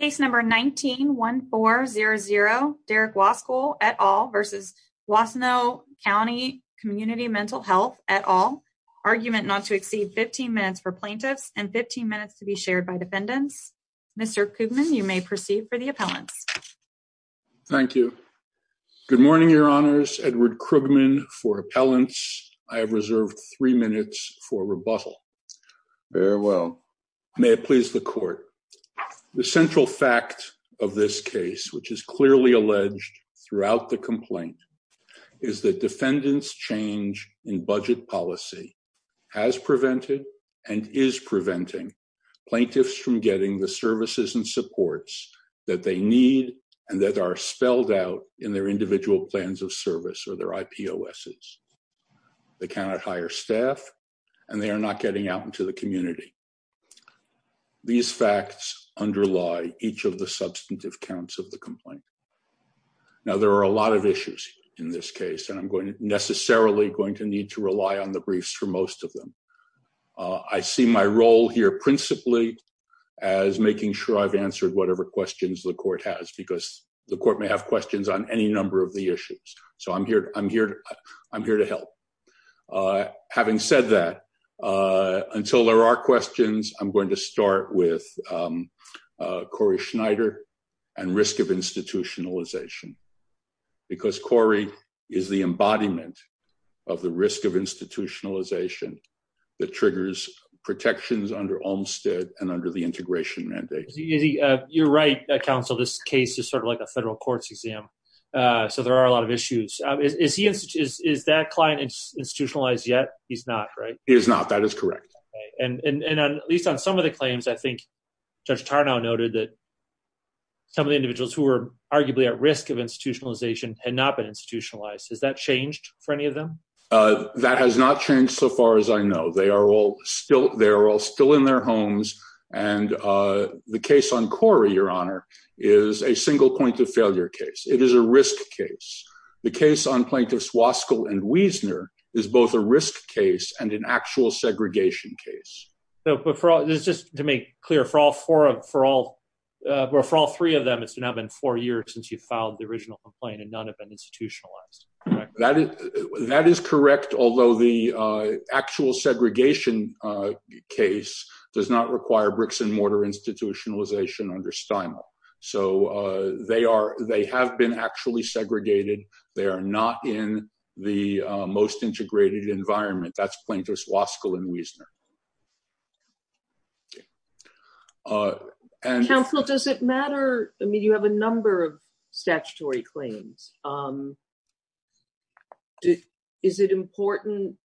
Mental Health at all argument not to exceed 15 minutes for plaintiffs and 15 minutes to be shared by defendants. Mr. Kugman, you may proceed for the appellants. Thank you. Good morning, your honors Edward Krugman for appellants. I have reserved three minutes for rebuttal. Very well. May it please the court. The central fact of this case which is clearly alleged throughout the complaint is the defendants change in budget policy has prevented and is preventing plaintiffs from getting the services and supports that they need, and that are spelled out in their individual plans of service or their IP OS's. They cannot hire staff and they are not getting out into the community. These facts underlie each of the substantive counts of the complaint. Now there are a lot of issues in this case and I'm going to necessarily going to need to rely on the briefs for most of them. I see my role here principally as making sure I've answered whatever questions the court has because the court may have questions on any number of the issues. So I'm here. I'm here. I'm here to help. Having said that, until there are questions, I'm going to start with Corey Schneider and risk of institutionalization because Corey is the embodiment of the risk of institutionalization that triggers protections under Olmstead and under the integration mandate. You're right, counsel. This case is sort of like a federal court's exam. So there are a lot of issues. Is that client institutionalized yet? He's not, right? He is not. That is correct. And at least on some of the claims, I think Judge Tarnow noted that some of the individuals who were arguably at risk of institutionalization had not been institutionalized. Has that changed for any of them? That has not changed so far as I know. They are all still in their homes. And the case on Corey, Your Honor, is a single point of failure case. It is a risk case. The case on plaintiffs Waskell and Wiesner is both a risk case and an actual segregation case. Just to make clear, for all three of them, it's now been four years since you filed the original complaint and none have been institutionalized. That is correct, although the actual segregation case does not require bricks-and-mortar institutionalization under STYMO. So they have been actually segregated. They are not in the most integrated environment. That's plaintiffs Waskell and Wiesner. Counsel, does it matter? I mean, you have a number of statutory claims. Is it important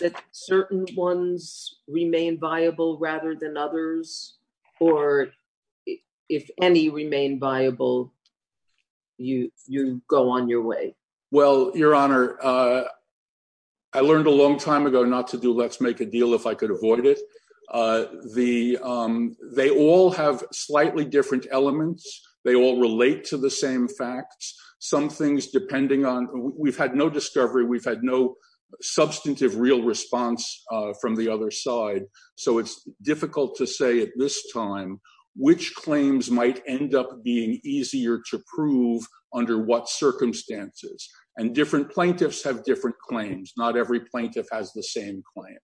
that certain ones remain viable rather than others? Or if any remain viable, you go on your way? Well, Your Honor, I learned a long time ago not to do let's make a deal if I could avoid it. They all have slightly different elements. They all relate to the same facts. We've had no discovery. We've had no substantive real response from the other side. So it's difficult to say at this time which claims might end up being easier to prove under what circumstances. And different plaintiffs have different claims. Not every plaintiff has the same claim.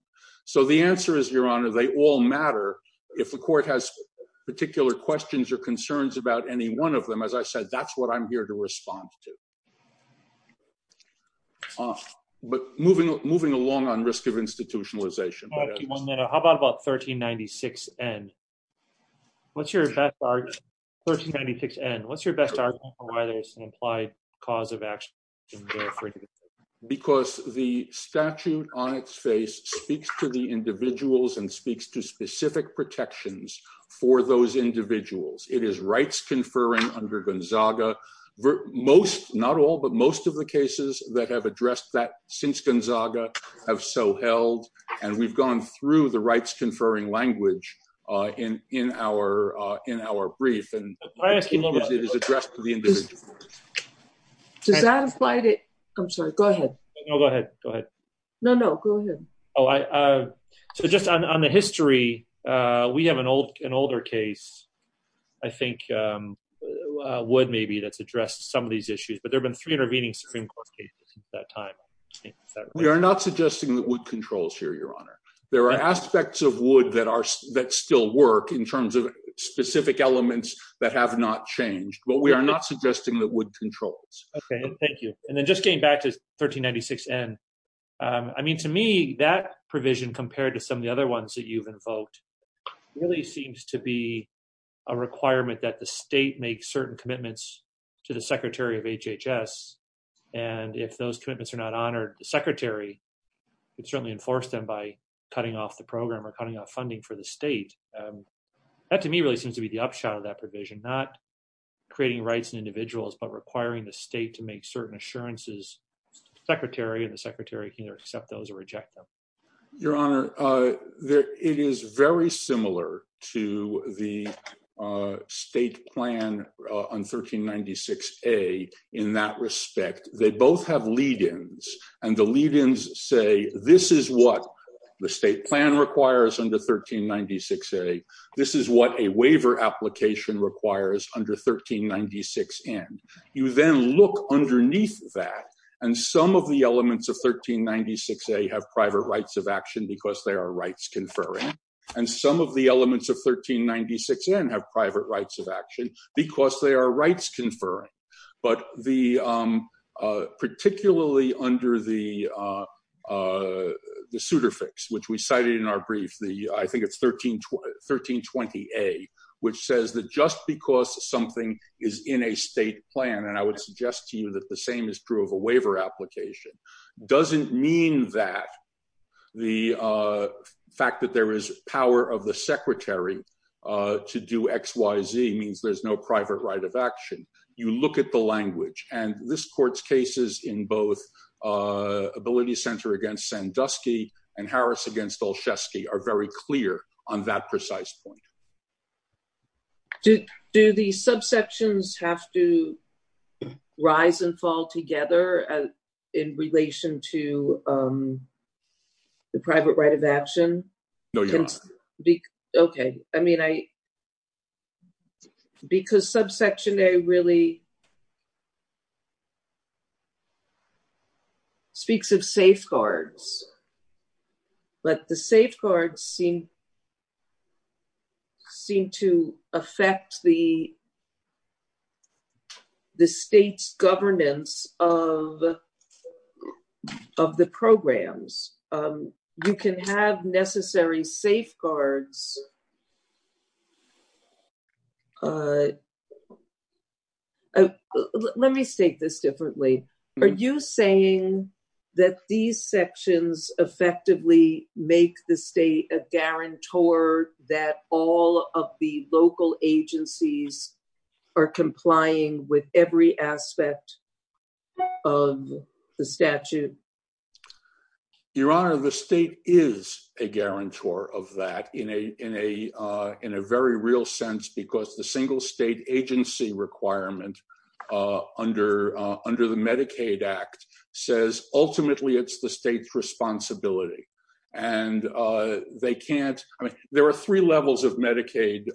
So the answer is, Your Honor, they all matter. If the court has particular questions or concerns about any one of them, as I said, that's what I'm here to respond to. But moving along on risk of institutionalization. How about about 1396N? What's your best argument? 1396N, what's your best argument for why there's an implied cause of action? Because the statute on its face speaks to the individuals and speaks to specific protections for those individuals. It is rights conferring under Gonzaga. Most, not all, but most of the cases that have addressed that since Gonzaga have so held. And we've gone through the rights conferring language in our brief. Does that apply to... I'm sorry, go ahead. No, go ahead. Go ahead. No, no, go ahead. So just on the history, we have an older case, I think, Wood maybe that's addressed some of these issues. But there have been three intervening Supreme Court cases since that time. We are not suggesting that Wood controls here, Your Honor. There are aspects of Wood that still work in terms of specific elements that have not changed. But we are not suggesting that Wood controls. Okay, thank you. And then just getting back to 1396N. I mean, to me, that provision compared to some of the other ones that you've invoked really seems to be a requirement that the state makes certain commitments to the Secretary of HHS. And if those commitments are not honored, the Secretary would certainly enforce them by cutting off the program or cutting off funding for the state. That to me really seems to be the upshot of that provision, not creating rights and individuals, but requiring the state to make certain assurances to the Secretary and the Secretary can either accept those or reject them. Your Honor, it is very similar to the state plan on 1396A in that respect. They both have lead-ins and the lead-ins say this is what the state plan requires under 1396A. This is what a waiver application requires under 1396N. You then look underneath that, and some of the elements of 1396A have private rights of action because they are rights conferring. And some of the elements of 1396N have private rights of action because they are rights conferring. But particularly under the suitor fix, which we cited in our brief, I think it's 1320A, which says that just because something is in a state plan, and I would suggest to you that the same is true of a waiver application, doesn't mean that the fact that there is power of the Secretary to do XYZ means there's no private right of action. You look at the language, and this Court's cases in both Ability Center against Sandusky and Harris against Olszewski are very clear on that precise point. Do the subsections have to rise and fall together in relation to the private right of action? No, Your Honor. Okay, I mean, because subsection A really speaks of safeguards, but the safeguards seem to affect the state's governance of the programs. You can have necessary safeguards. Let me state this differently. Are you saying that these sections effectively make the state a guarantor that all of the local agencies are complying with every aspect of the statute? Your Honor, the state is a guarantor of that in a very real sense, because the single state agency requirement under the Medicaid Act says ultimately it's the state's responsibility. And they can't, I mean, there are three levels of Medicaid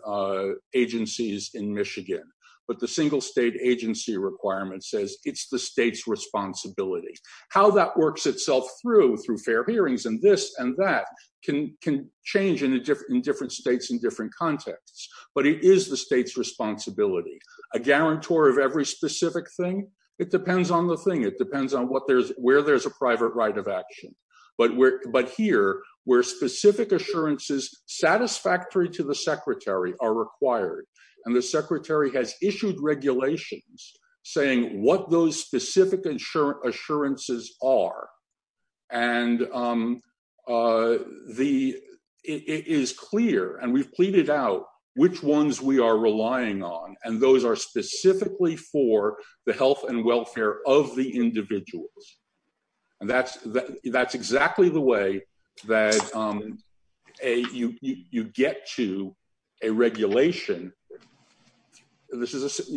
agencies in Michigan, but the single state agency requirement says it's the state's responsibility. How that works itself through, through fair hearings and this and that, can change in different states in different contexts. But it is the state's responsibility. A guarantor of every specific thing? It depends on the thing. It depends on where there's a private right of action. But here, where specific assurances satisfactory to the Secretary are required, and the Secretary has issued regulations saying what those specific assurances are. And it is clear, and we've pleaded out which ones we are relying on, and those are specifically for the health and welfare of the individuals. And that's, that's exactly the way that you get to a regulation. This is,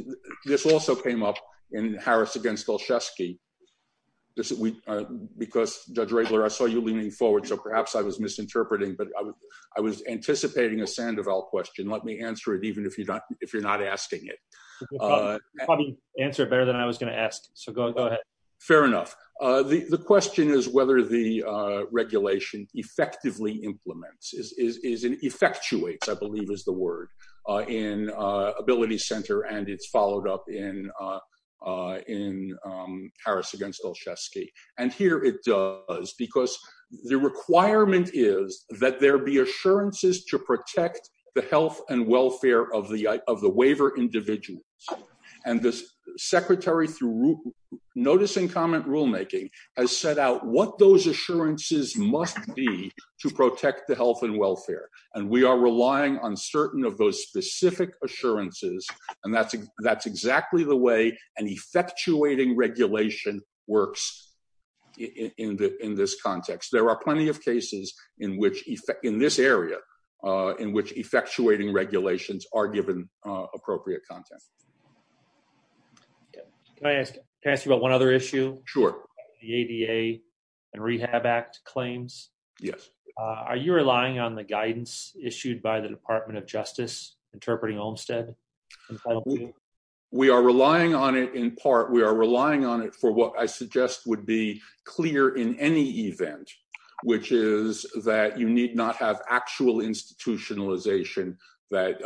this also came up in Harris against Olszewski. Because Judge Raebler, I saw you leaning forward so perhaps I was misinterpreting but I was, I was anticipating a Sandoval question let me answer it even if you're not, if you're not asking it. Answer it better than I was going to ask. So go ahead. Fair enough. The question is whether the regulation effectively implements is an effectuates I believe is the word in Ability Center and it's followed up in in Harris against Olszewski. And here it does, because the requirement is that there be assurances to protect the health and welfare of the of the waiver individuals. And this secretary through noticing comment rulemaking has set out what those assurances must be to protect the health and welfare, and we are relying on certain of those specific assurances, and that's, that's exactly the way and effectuating regulation works in the, in this context, there are plenty of cases in which effect in this area in which effectuating regulations are given appropriate content. Can I ask you about one other issue. Sure. The ADA and Rehab Act claims. Yes. Are you relying on the guidance issued by the Department of Justice, interpreting Olmstead. We are relying on it in part we are relying on it for what I suggest would be clear in any event, which is that you need not have actual institutionalization that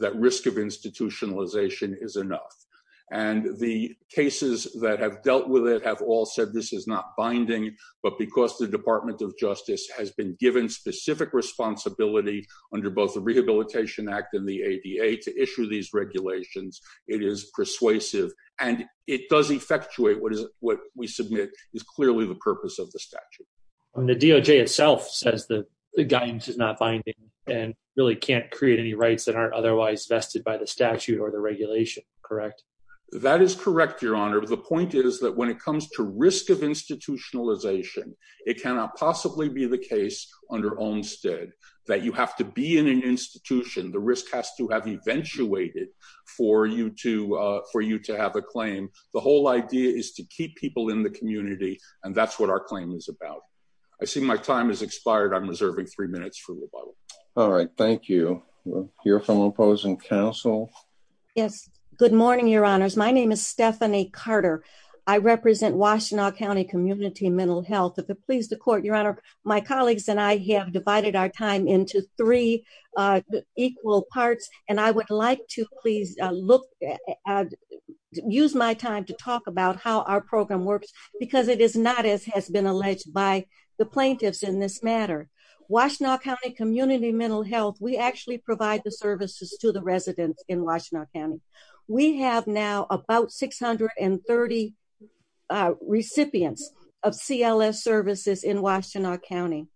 that risk of institutionalization is enough. And the cases that have dealt with it have all said this is not binding, but because the Department of Justice has been given specific responsibility under both the Rehabilitation Act and the ADA to issue these regulations, it is persuasive, and it does effectuate what is what we submit is clearly the purpose of the statute. The DOJ itself says the guidance is not binding and really can't create any rights that are otherwise vested by the statute or the regulation. Correct. That is correct, Your Honor. The point is that when it comes to risk of institutionalization, it cannot possibly be the case under Olmstead that you have to be in an institution, the risk has to have eventuated for you to for you to have a claim. The whole idea is to keep people in the community. And that's what our claim is about. I see my time has expired I'm reserving three minutes for rebuttal. All right, thank you. You're from opposing counsel. Yes. Good morning, Your Honors. My name is Stephanie Carter. I represent Washtenaw County community mental health of the please the court, Your Honor, my colleagues and I have divided our time into three equal parts, and I would like to please look at. Use my time to talk about how our program works, because it is not as has been alleged by the plaintiffs in this matter, Washtenaw County community mental health we actually provide the services to the residents in Washtenaw County. We have now about 630 recipients of CLS services in Washtenaw County.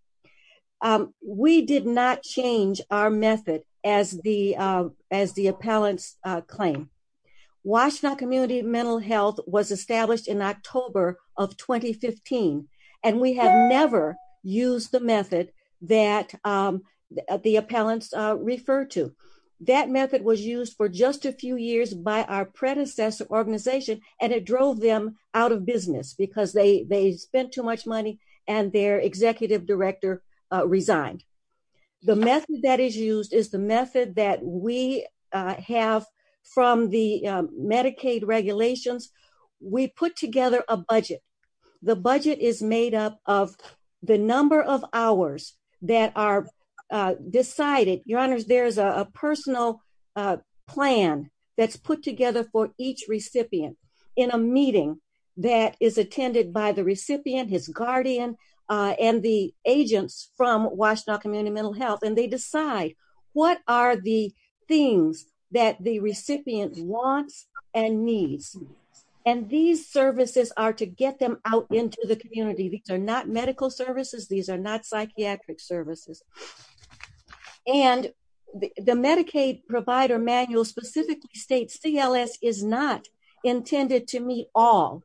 We did not change our method, as the, as the appellants claim Washtenaw community mental health was established in October of 2015, and we have never used the method that the appellants referred to that method was used for just a few years by our predecessor organization, and it drove them out of business because they they spent too much money, and their executive director resigned. The method that is used is the method that we have from the Medicaid regulations, we put together a budget. The budget is made up of the number of hours that are decided, Your Honor, there's a personal plan that's put together for each recipient in a meeting that is attended by the recipient his guardian, and the agents from Washtenaw community mental health and they decide what are the things that the recipient wants and needs. And these services are to get them out into the community. These are not medical services. These are not psychiatric services. And the Medicaid provider manual specifically state CLS is not intended to meet all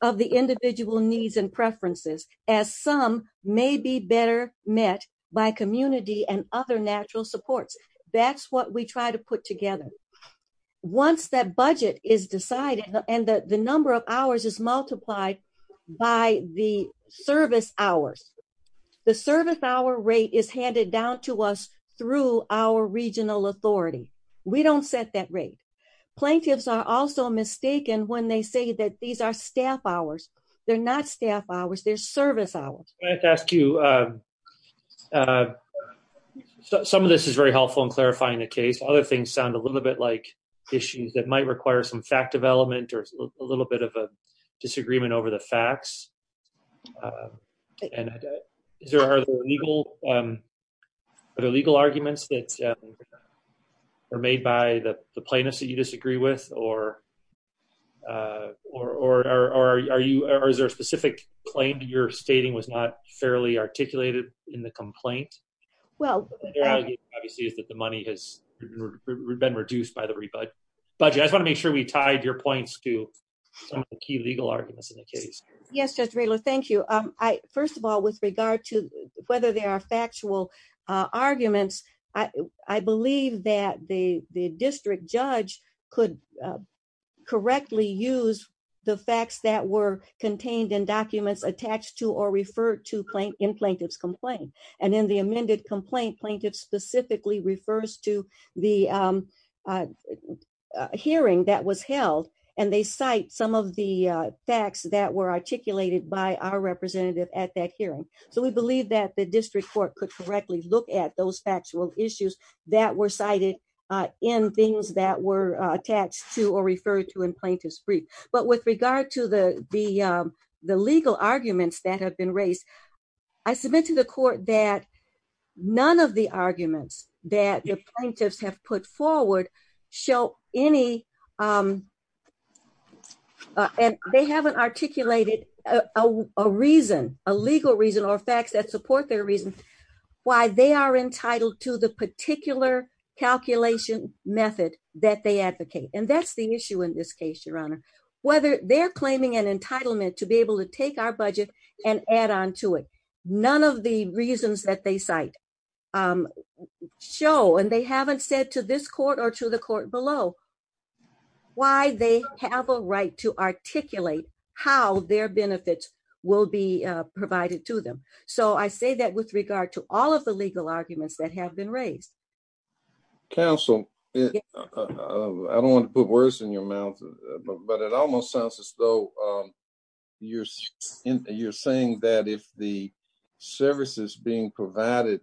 of the individual needs and preferences, as some may be better met by community and other natural supports. That's what we try to put together. Once that budget is decided, and the number of hours is multiplied by the service hours. The service hour rate is handed down to us through our regional authority. We don't set that rate plaintiffs are also mistaken when they say that these are staff hours. They're not staff hours their service hours. I have to ask you. Some of this is very helpful in clarifying the case other things sound a little bit like issues that might require some fact development or a little bit of a disagreement over the facts. And there are legal, legal arguments that are made by the plaintiffs that you disagree with or, or are you are there a specific claim to your stating was not fairly articulated in the complaint. Well, obviously is that the money has been reduced by the rebut budget I want to make sure we tied your points to the key legal arguments in the case. Thank you. I, first of all, with regard to whether they are factual arguments. I believe that the district judge could correctly use the facts that were contained in documents attached to or refer to claim in plaintiffs complaint, and then the amended complaint plaintiff specifically refers to the hearing that was held, and they cite some of the facts that were articulated by our representative at that hearing. So we believe that the district court could correctly look at those factual issues that were cited in things that were attached to or referred to in plaintiffs brief, but with regard to the, the, the legal arguments that have been raised. I submit to the court that none of the arguments that plaintiffs have put forward show any. And they haven't articulated a reason, a legal reason or facts that support their reason why they are entitled to the particular calculation method that they advocate and that's the issue in this case your honor, whether they're claiming an entitlement to be able to take our budget and add on to it. None of the reasons that they cite show and they haven't said to this court or to the court below why they have a right to articulate how their benefits will be provided to them. So I say that with regard to all of the legal arguments that have been raised. Council. I don't want to put words in your mouth, but it almost sounds as though you're, you're saying that if the services being provided,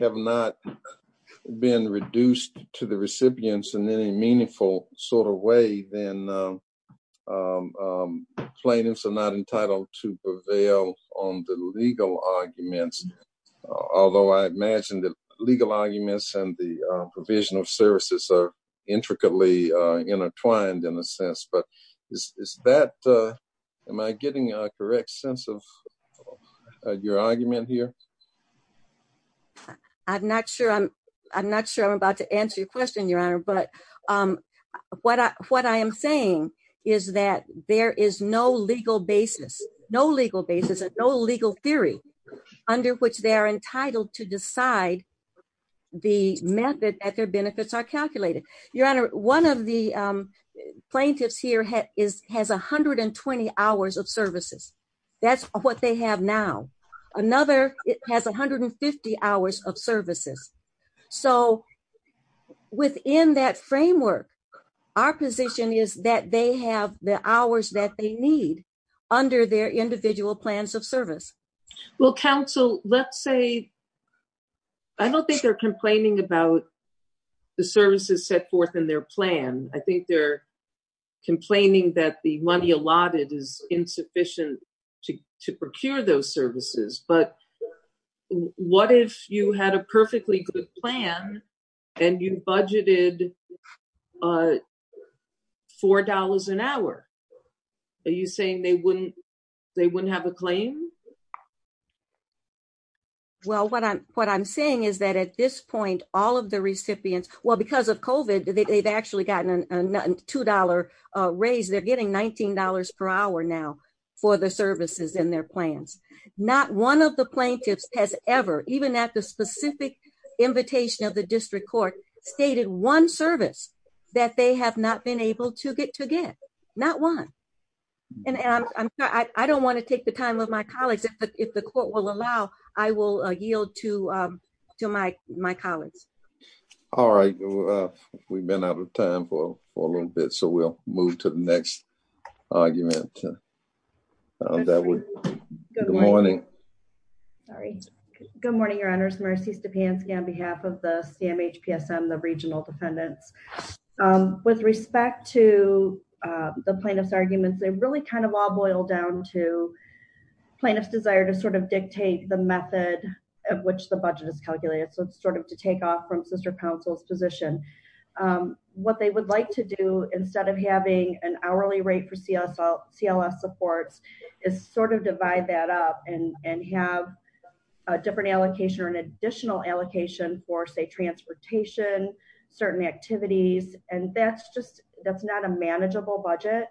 have not been reduced to the recipients in any meaningful sort of way, then plaintiffs are not entitled to prevail on the legal arguments, although I imagine the legal arguments and the provision of services are intricately intertwined in a sense but is that, am I getting a correct sense of your argument here. I'm not sure I'm, I'm not sure I'm about to answer your question your honor but what I, what I am saying is that there is no legal basis, no legal basis and no legal theory, under which they are entitled to decide the method that their benefits are calculated, your honor, one of the plaintiffs here has is has 120 hours of services. That's what they have now. Another, it has 150 hours of services. So, within that framework, our position is that they have the hours that they need under their individual plans of service. Well counsel, let's say, I don't think they're complaining about the services set forth in their plan, I think they're complaining that the money allotted is insufficient to procure those services but what if you had a perfectly good plan, and you budgeted $4 an hour. Are you saying they wouldn't, they wouldn't have a claim. Well what I'm, what I'm saying is that at this point, all of the recipients, well because of COVID they've actually gotten a $2 raise they're getting $19 per hour now for the services in their plans, not one of the plaintiffs has ever even at the specific invitation of the district court stated one service that they have not been able to get to get not one. And I don't want to take the time of my colleagues, if the court will allow, I will yield to to my, my colleagues. All right. We've been out of time for a little bit so we'll move to the next argument. Good morning. All right. Good morning, your honors Marcy Stepanski on behalf of the CMHPSM, the regional defendants. With respect to the plaintiff's arguments they really kind of all boil down to plaintiff's desire to sort of dictate the method of which the budget is calculated so it's sort of to take off from sister counsel's position. What they would like to do instead of having an hourly rate for CLS supports is sort of divide that up and and have a different allocation or an additional allocation for say transportation, certain activities, and that's just, that's not a manageable budget.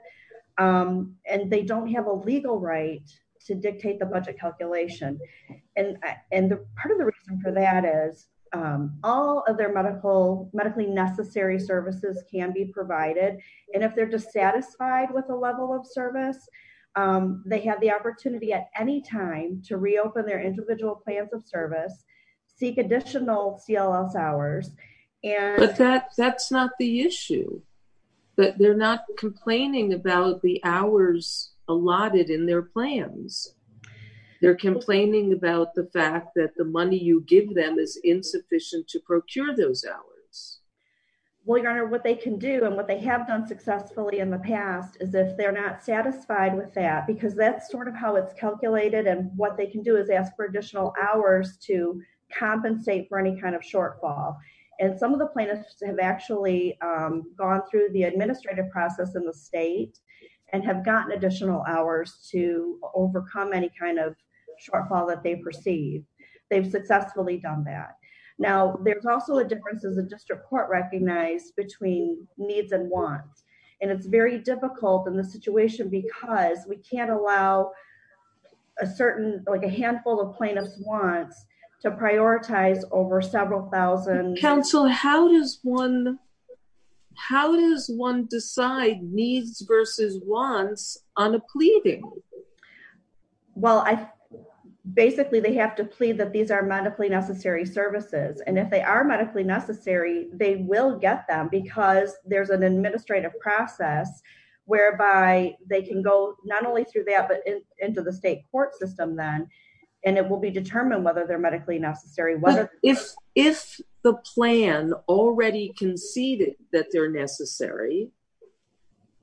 And they don't have a legal right to dictate the budget calculation. And, and part of the reason for that is all of their medical medically necessary services can be provided. And if they're dissatisfied with the level of service. They have the opportunity at any time to reopen their individual plans of service, seek additional CLS hours, and that's not the issue that they're not complaining about the hours allotted in their plans. They're complaining about the fact that the money you give them is insufficient to procure those hours. Well your honor what they can do and what they have done successfully in the past is if they're not satisfied with that because that's sort of how it's calculated and what they can do is ask for additional hours to compensate for any kind of shortfall. And some of the plaintiffs have actually gone through the administrative process in the state, and have gotten additional hours to overcome any kind of shortfall that they perceive they've successfully done that. Now, there's also a difference as a district court recognized between needs and wants, and it's very difficult in this situation because we can't allow a certain like a handful of plaintiffs wants to prioritize over several thousand counsel how does one. How does one decide needs versus wants on a pleading. Well, I basically they have to plead that these are medically necessary services and if they are medically necessary, they will get them because there's an administrative process, whereby they can go, not only through that but into the state court system then, and it will be determined whether they're medically necessary. If, if the plan already conceded that they're necessary.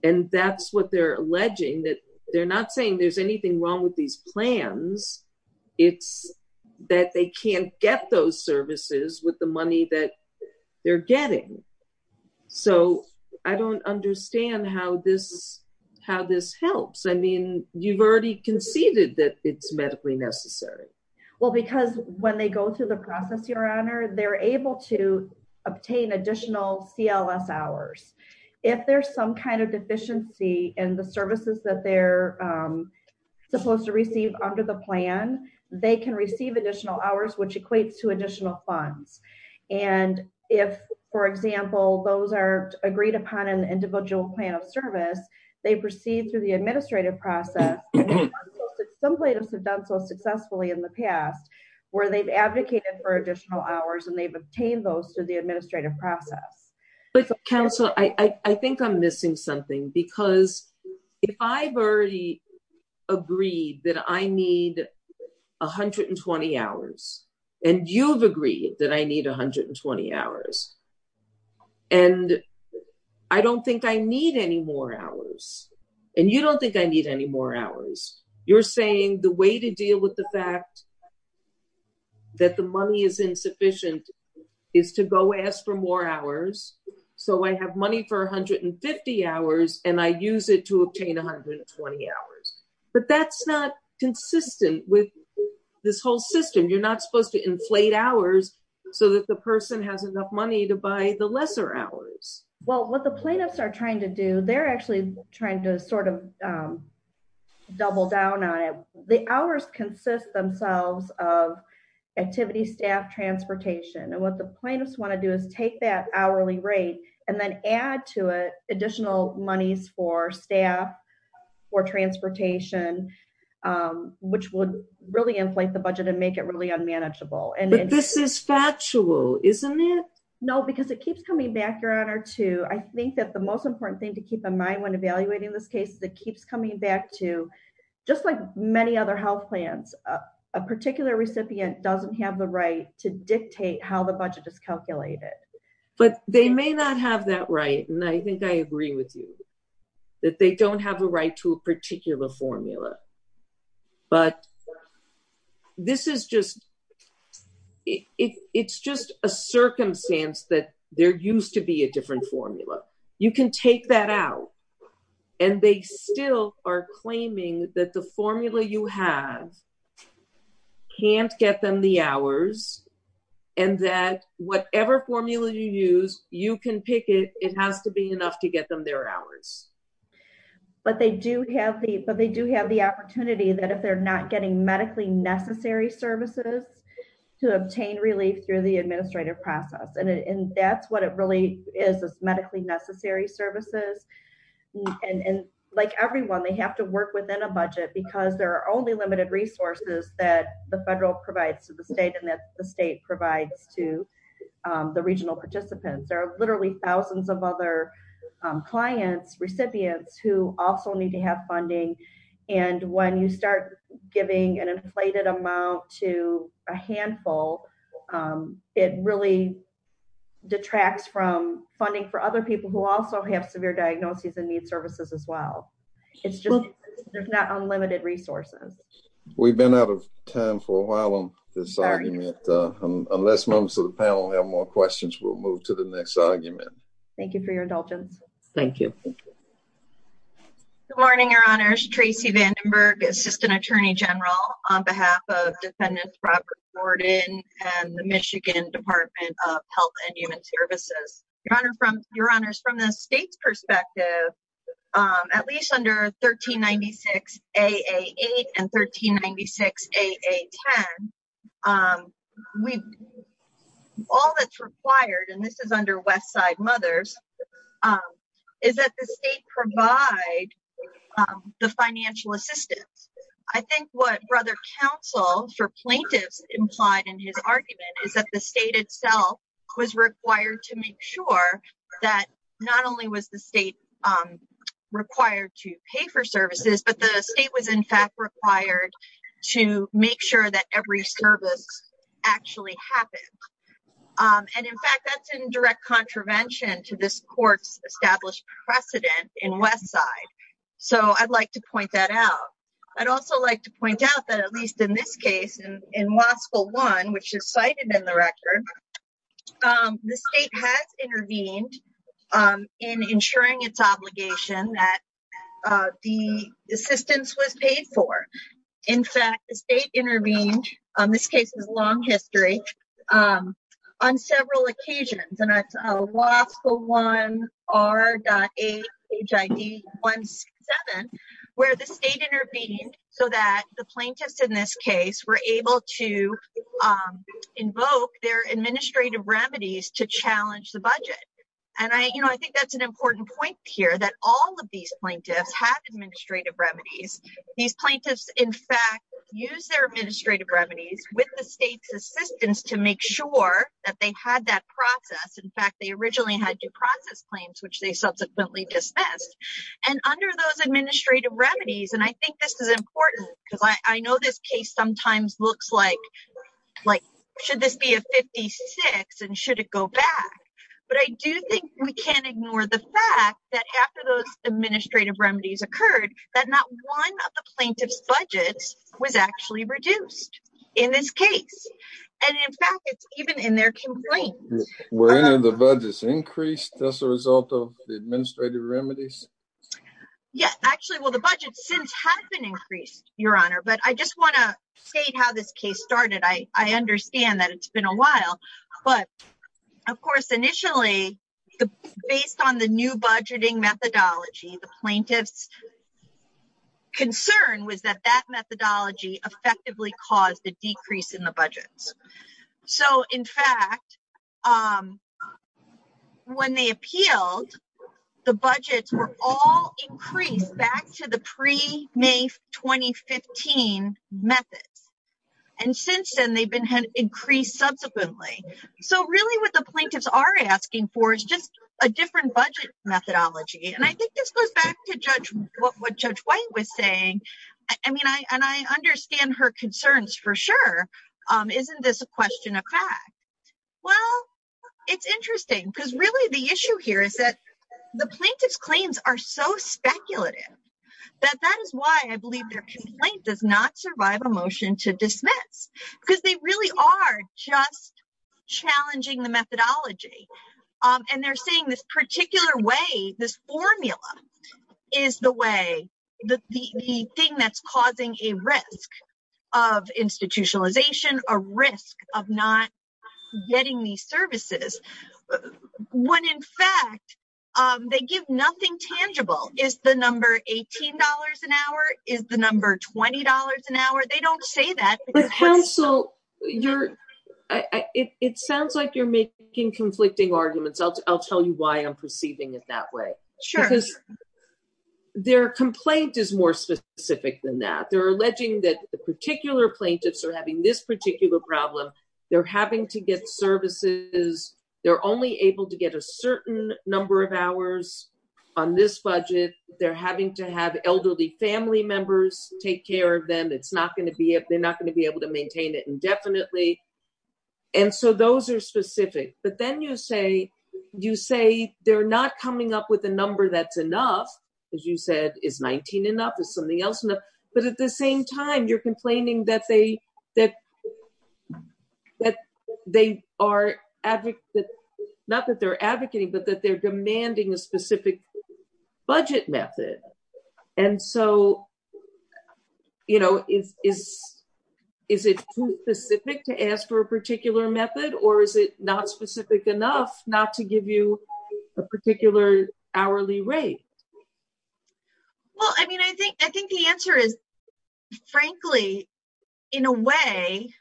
And that's what they're alleging that they're not saying there's anything wrong with these plans. It's that they can't get those services with the money that they're getting. So, I don't understand how this, how this helps. I mean, you've already conceded that it's medically necessary. Well because when they go through the process your honor they're able to obtain additional CLS hours. If there's some kind of deficiency in the services that they're supposed to receive under the plan, they can receive additional hours which equates to additional funds. And if, for example, those are agreed upon an individual plan of service, they proceed through the administrative process, simply to sit down so successfully in the past, where they've advocated for additional hours and they've obtained those through the administrative process. But counsel, I think I'm missing something because if I've already agreed that I need 120 hours, and you've agreed that I need 120 hours, and I don't think I need any more hours, and you don't think I need any more hours. You're saying the way to deal with the fact that the money is insufficient is to go ask for more hours. So I have money for 150 hours, and I use it to obtain 120 hours, but that's not consistent with this whole system you're not supposed to inflate hours, so that the person has enough money to buy the lesser hours. Well, what the plaintiffs are trying to do, they're actually trying to sort of double down on it, the hours consist themselves of activity staff transportation and what the plaintiffs want to do is take that hourly rate, and then add to it, additional monies for staff for transportation, which would really inflate the budget and make it really unmanageable and this is factual, isn't it. No, because it keeps coming back your honor to I think that the most important thing to keep in mind when evaluating this case that keeps coming back to, just like many other health plans, a particular recipient doesn't have the right to dictate how the budget is calculated. But they may not have that right and I think I agree with you that they don't have a right to a particular formula. But this is just, it's just a circumstance that there used to be a different formula, you can take that out, and they still are claiming that the formula you have can't get them the hours, and that whatever formula you use, you can pick it, it has to be enough to get them their hours. But they do have the, but they do have the opportunity that if they're not getting medically necessary services to obtain relief through the administrative process and that's what it really is this medically necessary services. And like everyone they have to work within a budget because there are only limited resources that the federal provides to the state and that the state provides to the regional participants are literally thousands of other clients recipients who also need to have funding. And when you start giving an inflated amount to a handful. It really detracts from funding for other people who also have severe diagnoses and need services as well. It's just, there's not unlimited resources. We've been out of time for a while on this argument. Unless members of the panel have more questions we'll move to the next argument. Thank you for your indulgence. Thank you. Good morning, your honors Tracy Vandenberg assistant attorney general on behalf of defendants Robert Gordon, and the Michigan Department of Health and Human Services, your honor from your honors from the state's perspective, at least under 1396 and 1396. We all that's required and this is under Westside mothers. Is that the state provide the financial assistance. I think what brother counsel for plaintiffs implied in his argument is that the state itself was required to make sure that not only was the state required to pay for services but the state was in fact required to make sure that every service actually happened. And in fact that's in direct contravention to this court's established precedent in Westside. So I'd like to point that out. I'd also like to point out that at least in this case in law school one which is cited in the record. The state has intervened in ensuring its obligation that the assistance was paid for. In fact, the state intervened on this case is long history. On several occasions and I lost the one, or a HIV, one, seven, where the state intervened, so that the plaintiffs in this case were able to invoke their administrative remedies to challenge the budget. And I, you know, I think that's an important point here that all of these plaintiffs have administrative remedies. These plaintiffs, in fact, use their administrative remedies with the state's assistance to make sure that they had that process. In fact, they originally had due process claims, which they subsequently dismissed. And under those administrative remedies, and I think this is important because I know this case sometimes looks like, like, should this be a 56 and should it go back? But I do think we can't ignore the fact that after those administrative remedies occurred that not one of the plaintiff's budgets was actually reduced in this case. And in fact, it's even in their complaint. Were any of the budgets increased as a result of the administrative remedies? Yeah, actually, well, the budget since has been increased, Your Honor, but I just want to state how this case started. I understand that it's been a while. But, of course, initially, based on the new budgeting methodology, the plaintiff's concern was that that methodology effectively caused a decrease in the budgets. So, in fact, when they appealed, the budgets were all increased back to the pre-May 2015 methods. And since then, they've been increased subsequently. So really what the plaintiffs are asking for is just a different budget methodology. And I think this goes back to what Judge White was saying. I mean, I understand her concerns for sure. Isn't this a question of fact? Well, it's interesting because really the issue here is that the plaintiff's claims are so speculative that that is why I believe their complaint does not survive a motion to dismiss because they really are just challenging the methodology. And they're saying this particular way, this formula is the way, the thing that's causing a risk of institutionalization, a risk of not getting these services, when in fact they give nothing tangible. Is the number $18 an hour? Is the number $20 an hour? They don't say that. But counsel, it sounds like you're making conflicting arguments. I'll tell you why I'm perceiving it that way. Sure. Because their complaint is more specific than that. They're alleging that the particular plaintiffs are having this particular problem. They're having to get services. They're only able to get a certain number of hours on this budget. They're having to have elderly family members take care of them. They're not going to be able to maintain it indefinitely. And so those are specific. But then you say they're not coming up with a number that's enough. As you said, is $19 enough? Is something else enough? But at the same time, you're complaining that they are, not that they're advocating, but that they're demanding a specific budget method. And so, is it too specific to ask for a particular method? Or is it not specific enough not to give you a particular hourly rate? Well, I think the answer is, frankly, in a way,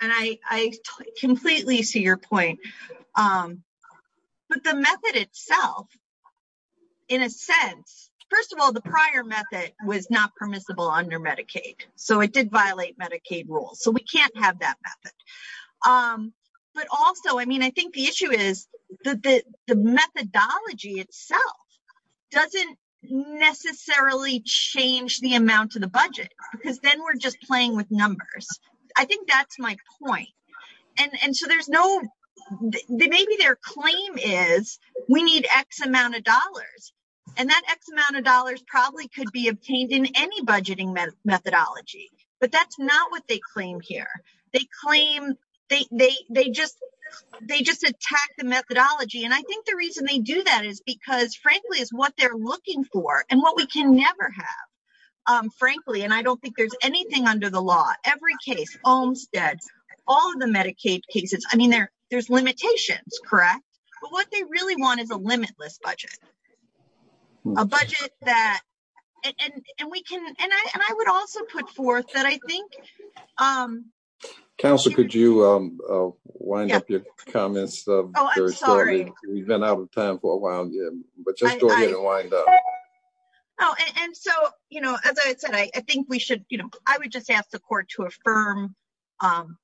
and I completely see your point. But the method itself, in a sense, first of all, the prior method was not permissible under Medicaid. So it did violate Medicaid rules. So we can't have that method. But also, I mean, I think the issue is that the methodology itself doesn't necessarily change the amount of the budget. Because then we're just playing with numbers. I think that's my point. And so maybe their claim is, we need X amount of dollars. And that X amount of dollars probably could be obtained in any budgeting methodology. But that's not what they claim here. They claim they just attack the methodology. And I think the reason they do that is because, frankly, it's what they're looking for and what we can never have, frankly. Every case, Olmstead, all of the Medicaid cases, I mean, there's limitations, correct? But what they really want is a limitless budget. A budget that, and we can, and I would also put forth that I think. Counsel, could you wind up your comments? Oh, I'm sorry. We've been out of time for a while. But just go ahead and wind up. Oh, and so, you know, as I said, I think we should, you know, I would just ask the court to affirm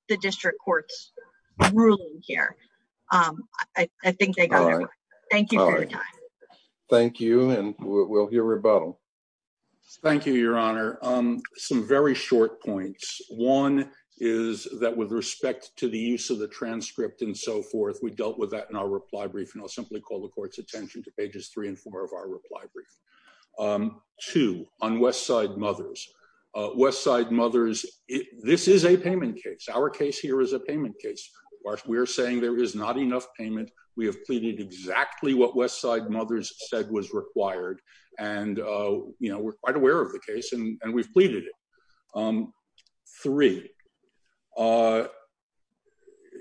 the district court's ruling here. I think they got it. Thank you for your time. Thank you. And we'll hear rebuttal. Thank you, Your Honor. Some very short points. One is that with respect to the use of the transcript and so forth, we dealt with that in our reply brief, and I'll simply call the court's attention to pages three and four of our reply brief. Two, on Westside Mothers. Westside Mothers, this is a payment case. Our case here is a payment case. We're saying there is not enough payment. We have pleaded exactly what Westside Mothers said was required. And, you know, we're quite aware of the case and we've pleaded it. Three,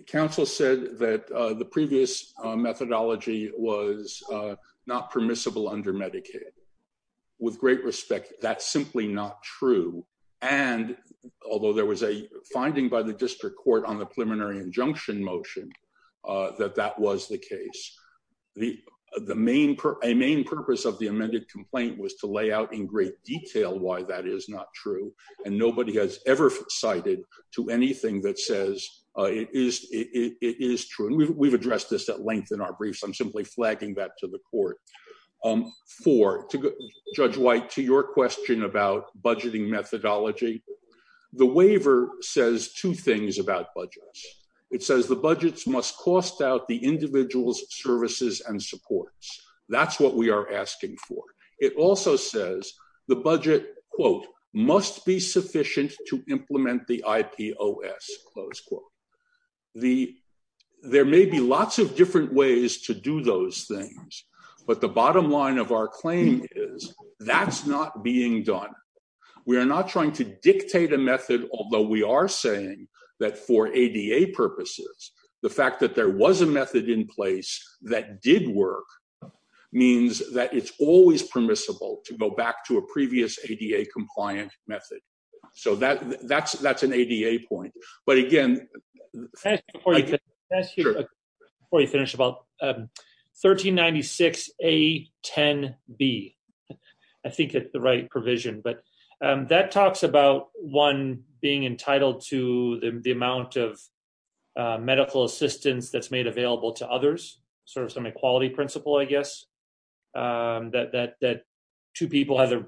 council said that the previous methodology was not permissible under Medicaid. With great respect, that's simply not true. And although there was a finding by the district court on the preliminary injunction motion that that was the case. A main purpose of the amended complaint was to lay out in great detail why that is not true. And nobody has ever cited to anything that says it is true. And we've addressed this at length in our briefs. I'm simply flagging that to the court. Four, Judge White, to your question about budgeting methodology. The waiver says two things about budgets. It says the budgets must cost out the individual's services and supports. That's what we are asking for. It also says the budget, quote, must be sufficient to implement the IPOS, close quote. There may be lots of different ways to do those things. But the bottom line of our claim is that's not being done. We are not trying to dictate a method, although we are saying that for ADA purposes, the fact that there was a method in place that did work means that it's always permissible to go back to a previous ADA compliant method. So that's an ADA point. But, again... Before you finish, about 1396A10B. I think it's the right provision. That talks about, one, being entitled to the amount of medical assistance that's made available to others. Sort of some equality principle, I guess. That two people who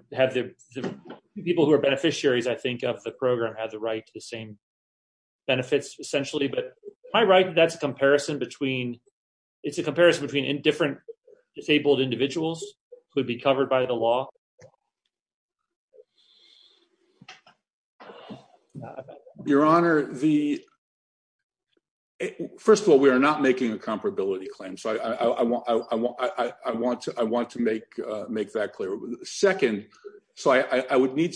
are beneficiaries, I think, of the program have the right to the same benefits, essentially. But, am I right that that's a comparison between different disabled individuals who would be covered by the law? Your Honor, the... First of all, we are not making a comparability claim. So I want to make that clear. Second, so I would need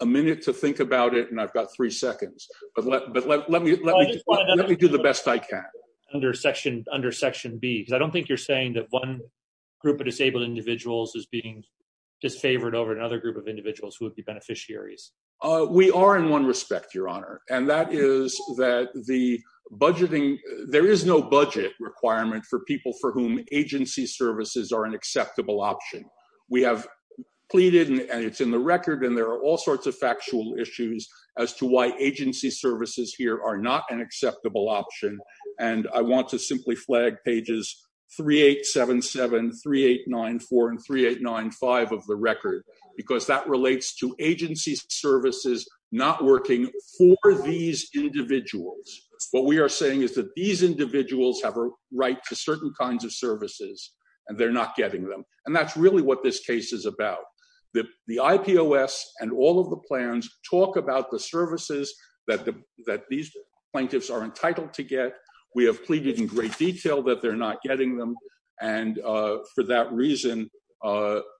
a minute to think about it, and I've got three seconds. But let me do the best I can. Under Section B. Because I don't think you're saying that one group of disabled individuals is being disfavored over another group of individuals who would be beneficiaries. We are in one respect, Your Honor. And that is that the budgeting... There is no budget requirement for people for whom agency services are an acceptable option. We have pleaded, and it's in the record, and there are all sorts of factual issues as to why agency services here are not an acceptable option. And I want to simply flag pages 3877, 3894, and 3895 of the record. Because that relates to agency services not working for these individuals. What we are saying is that these individuals have a right to certain kinds of services, and they're not getting them. And that's really what this case is about. The IPOS and all of the plans talk about the services that these plaintiffs are entitled to get. We have pleaded in great detail that they're not getting them. And for that reason,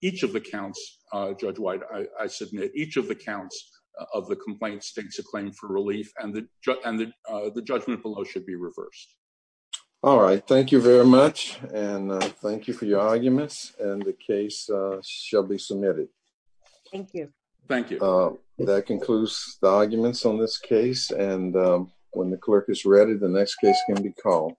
each of the counts, Judge White, I submit, each of the counts of the complaint states a claim for relief, and the judgment below should be reversed. All right. Thank you very much. And thank you for your arguments. And the case shall be submitted. Thank you. Thank you. That concludes the arguments on this case. And when the clerk is ready, the next case can be called.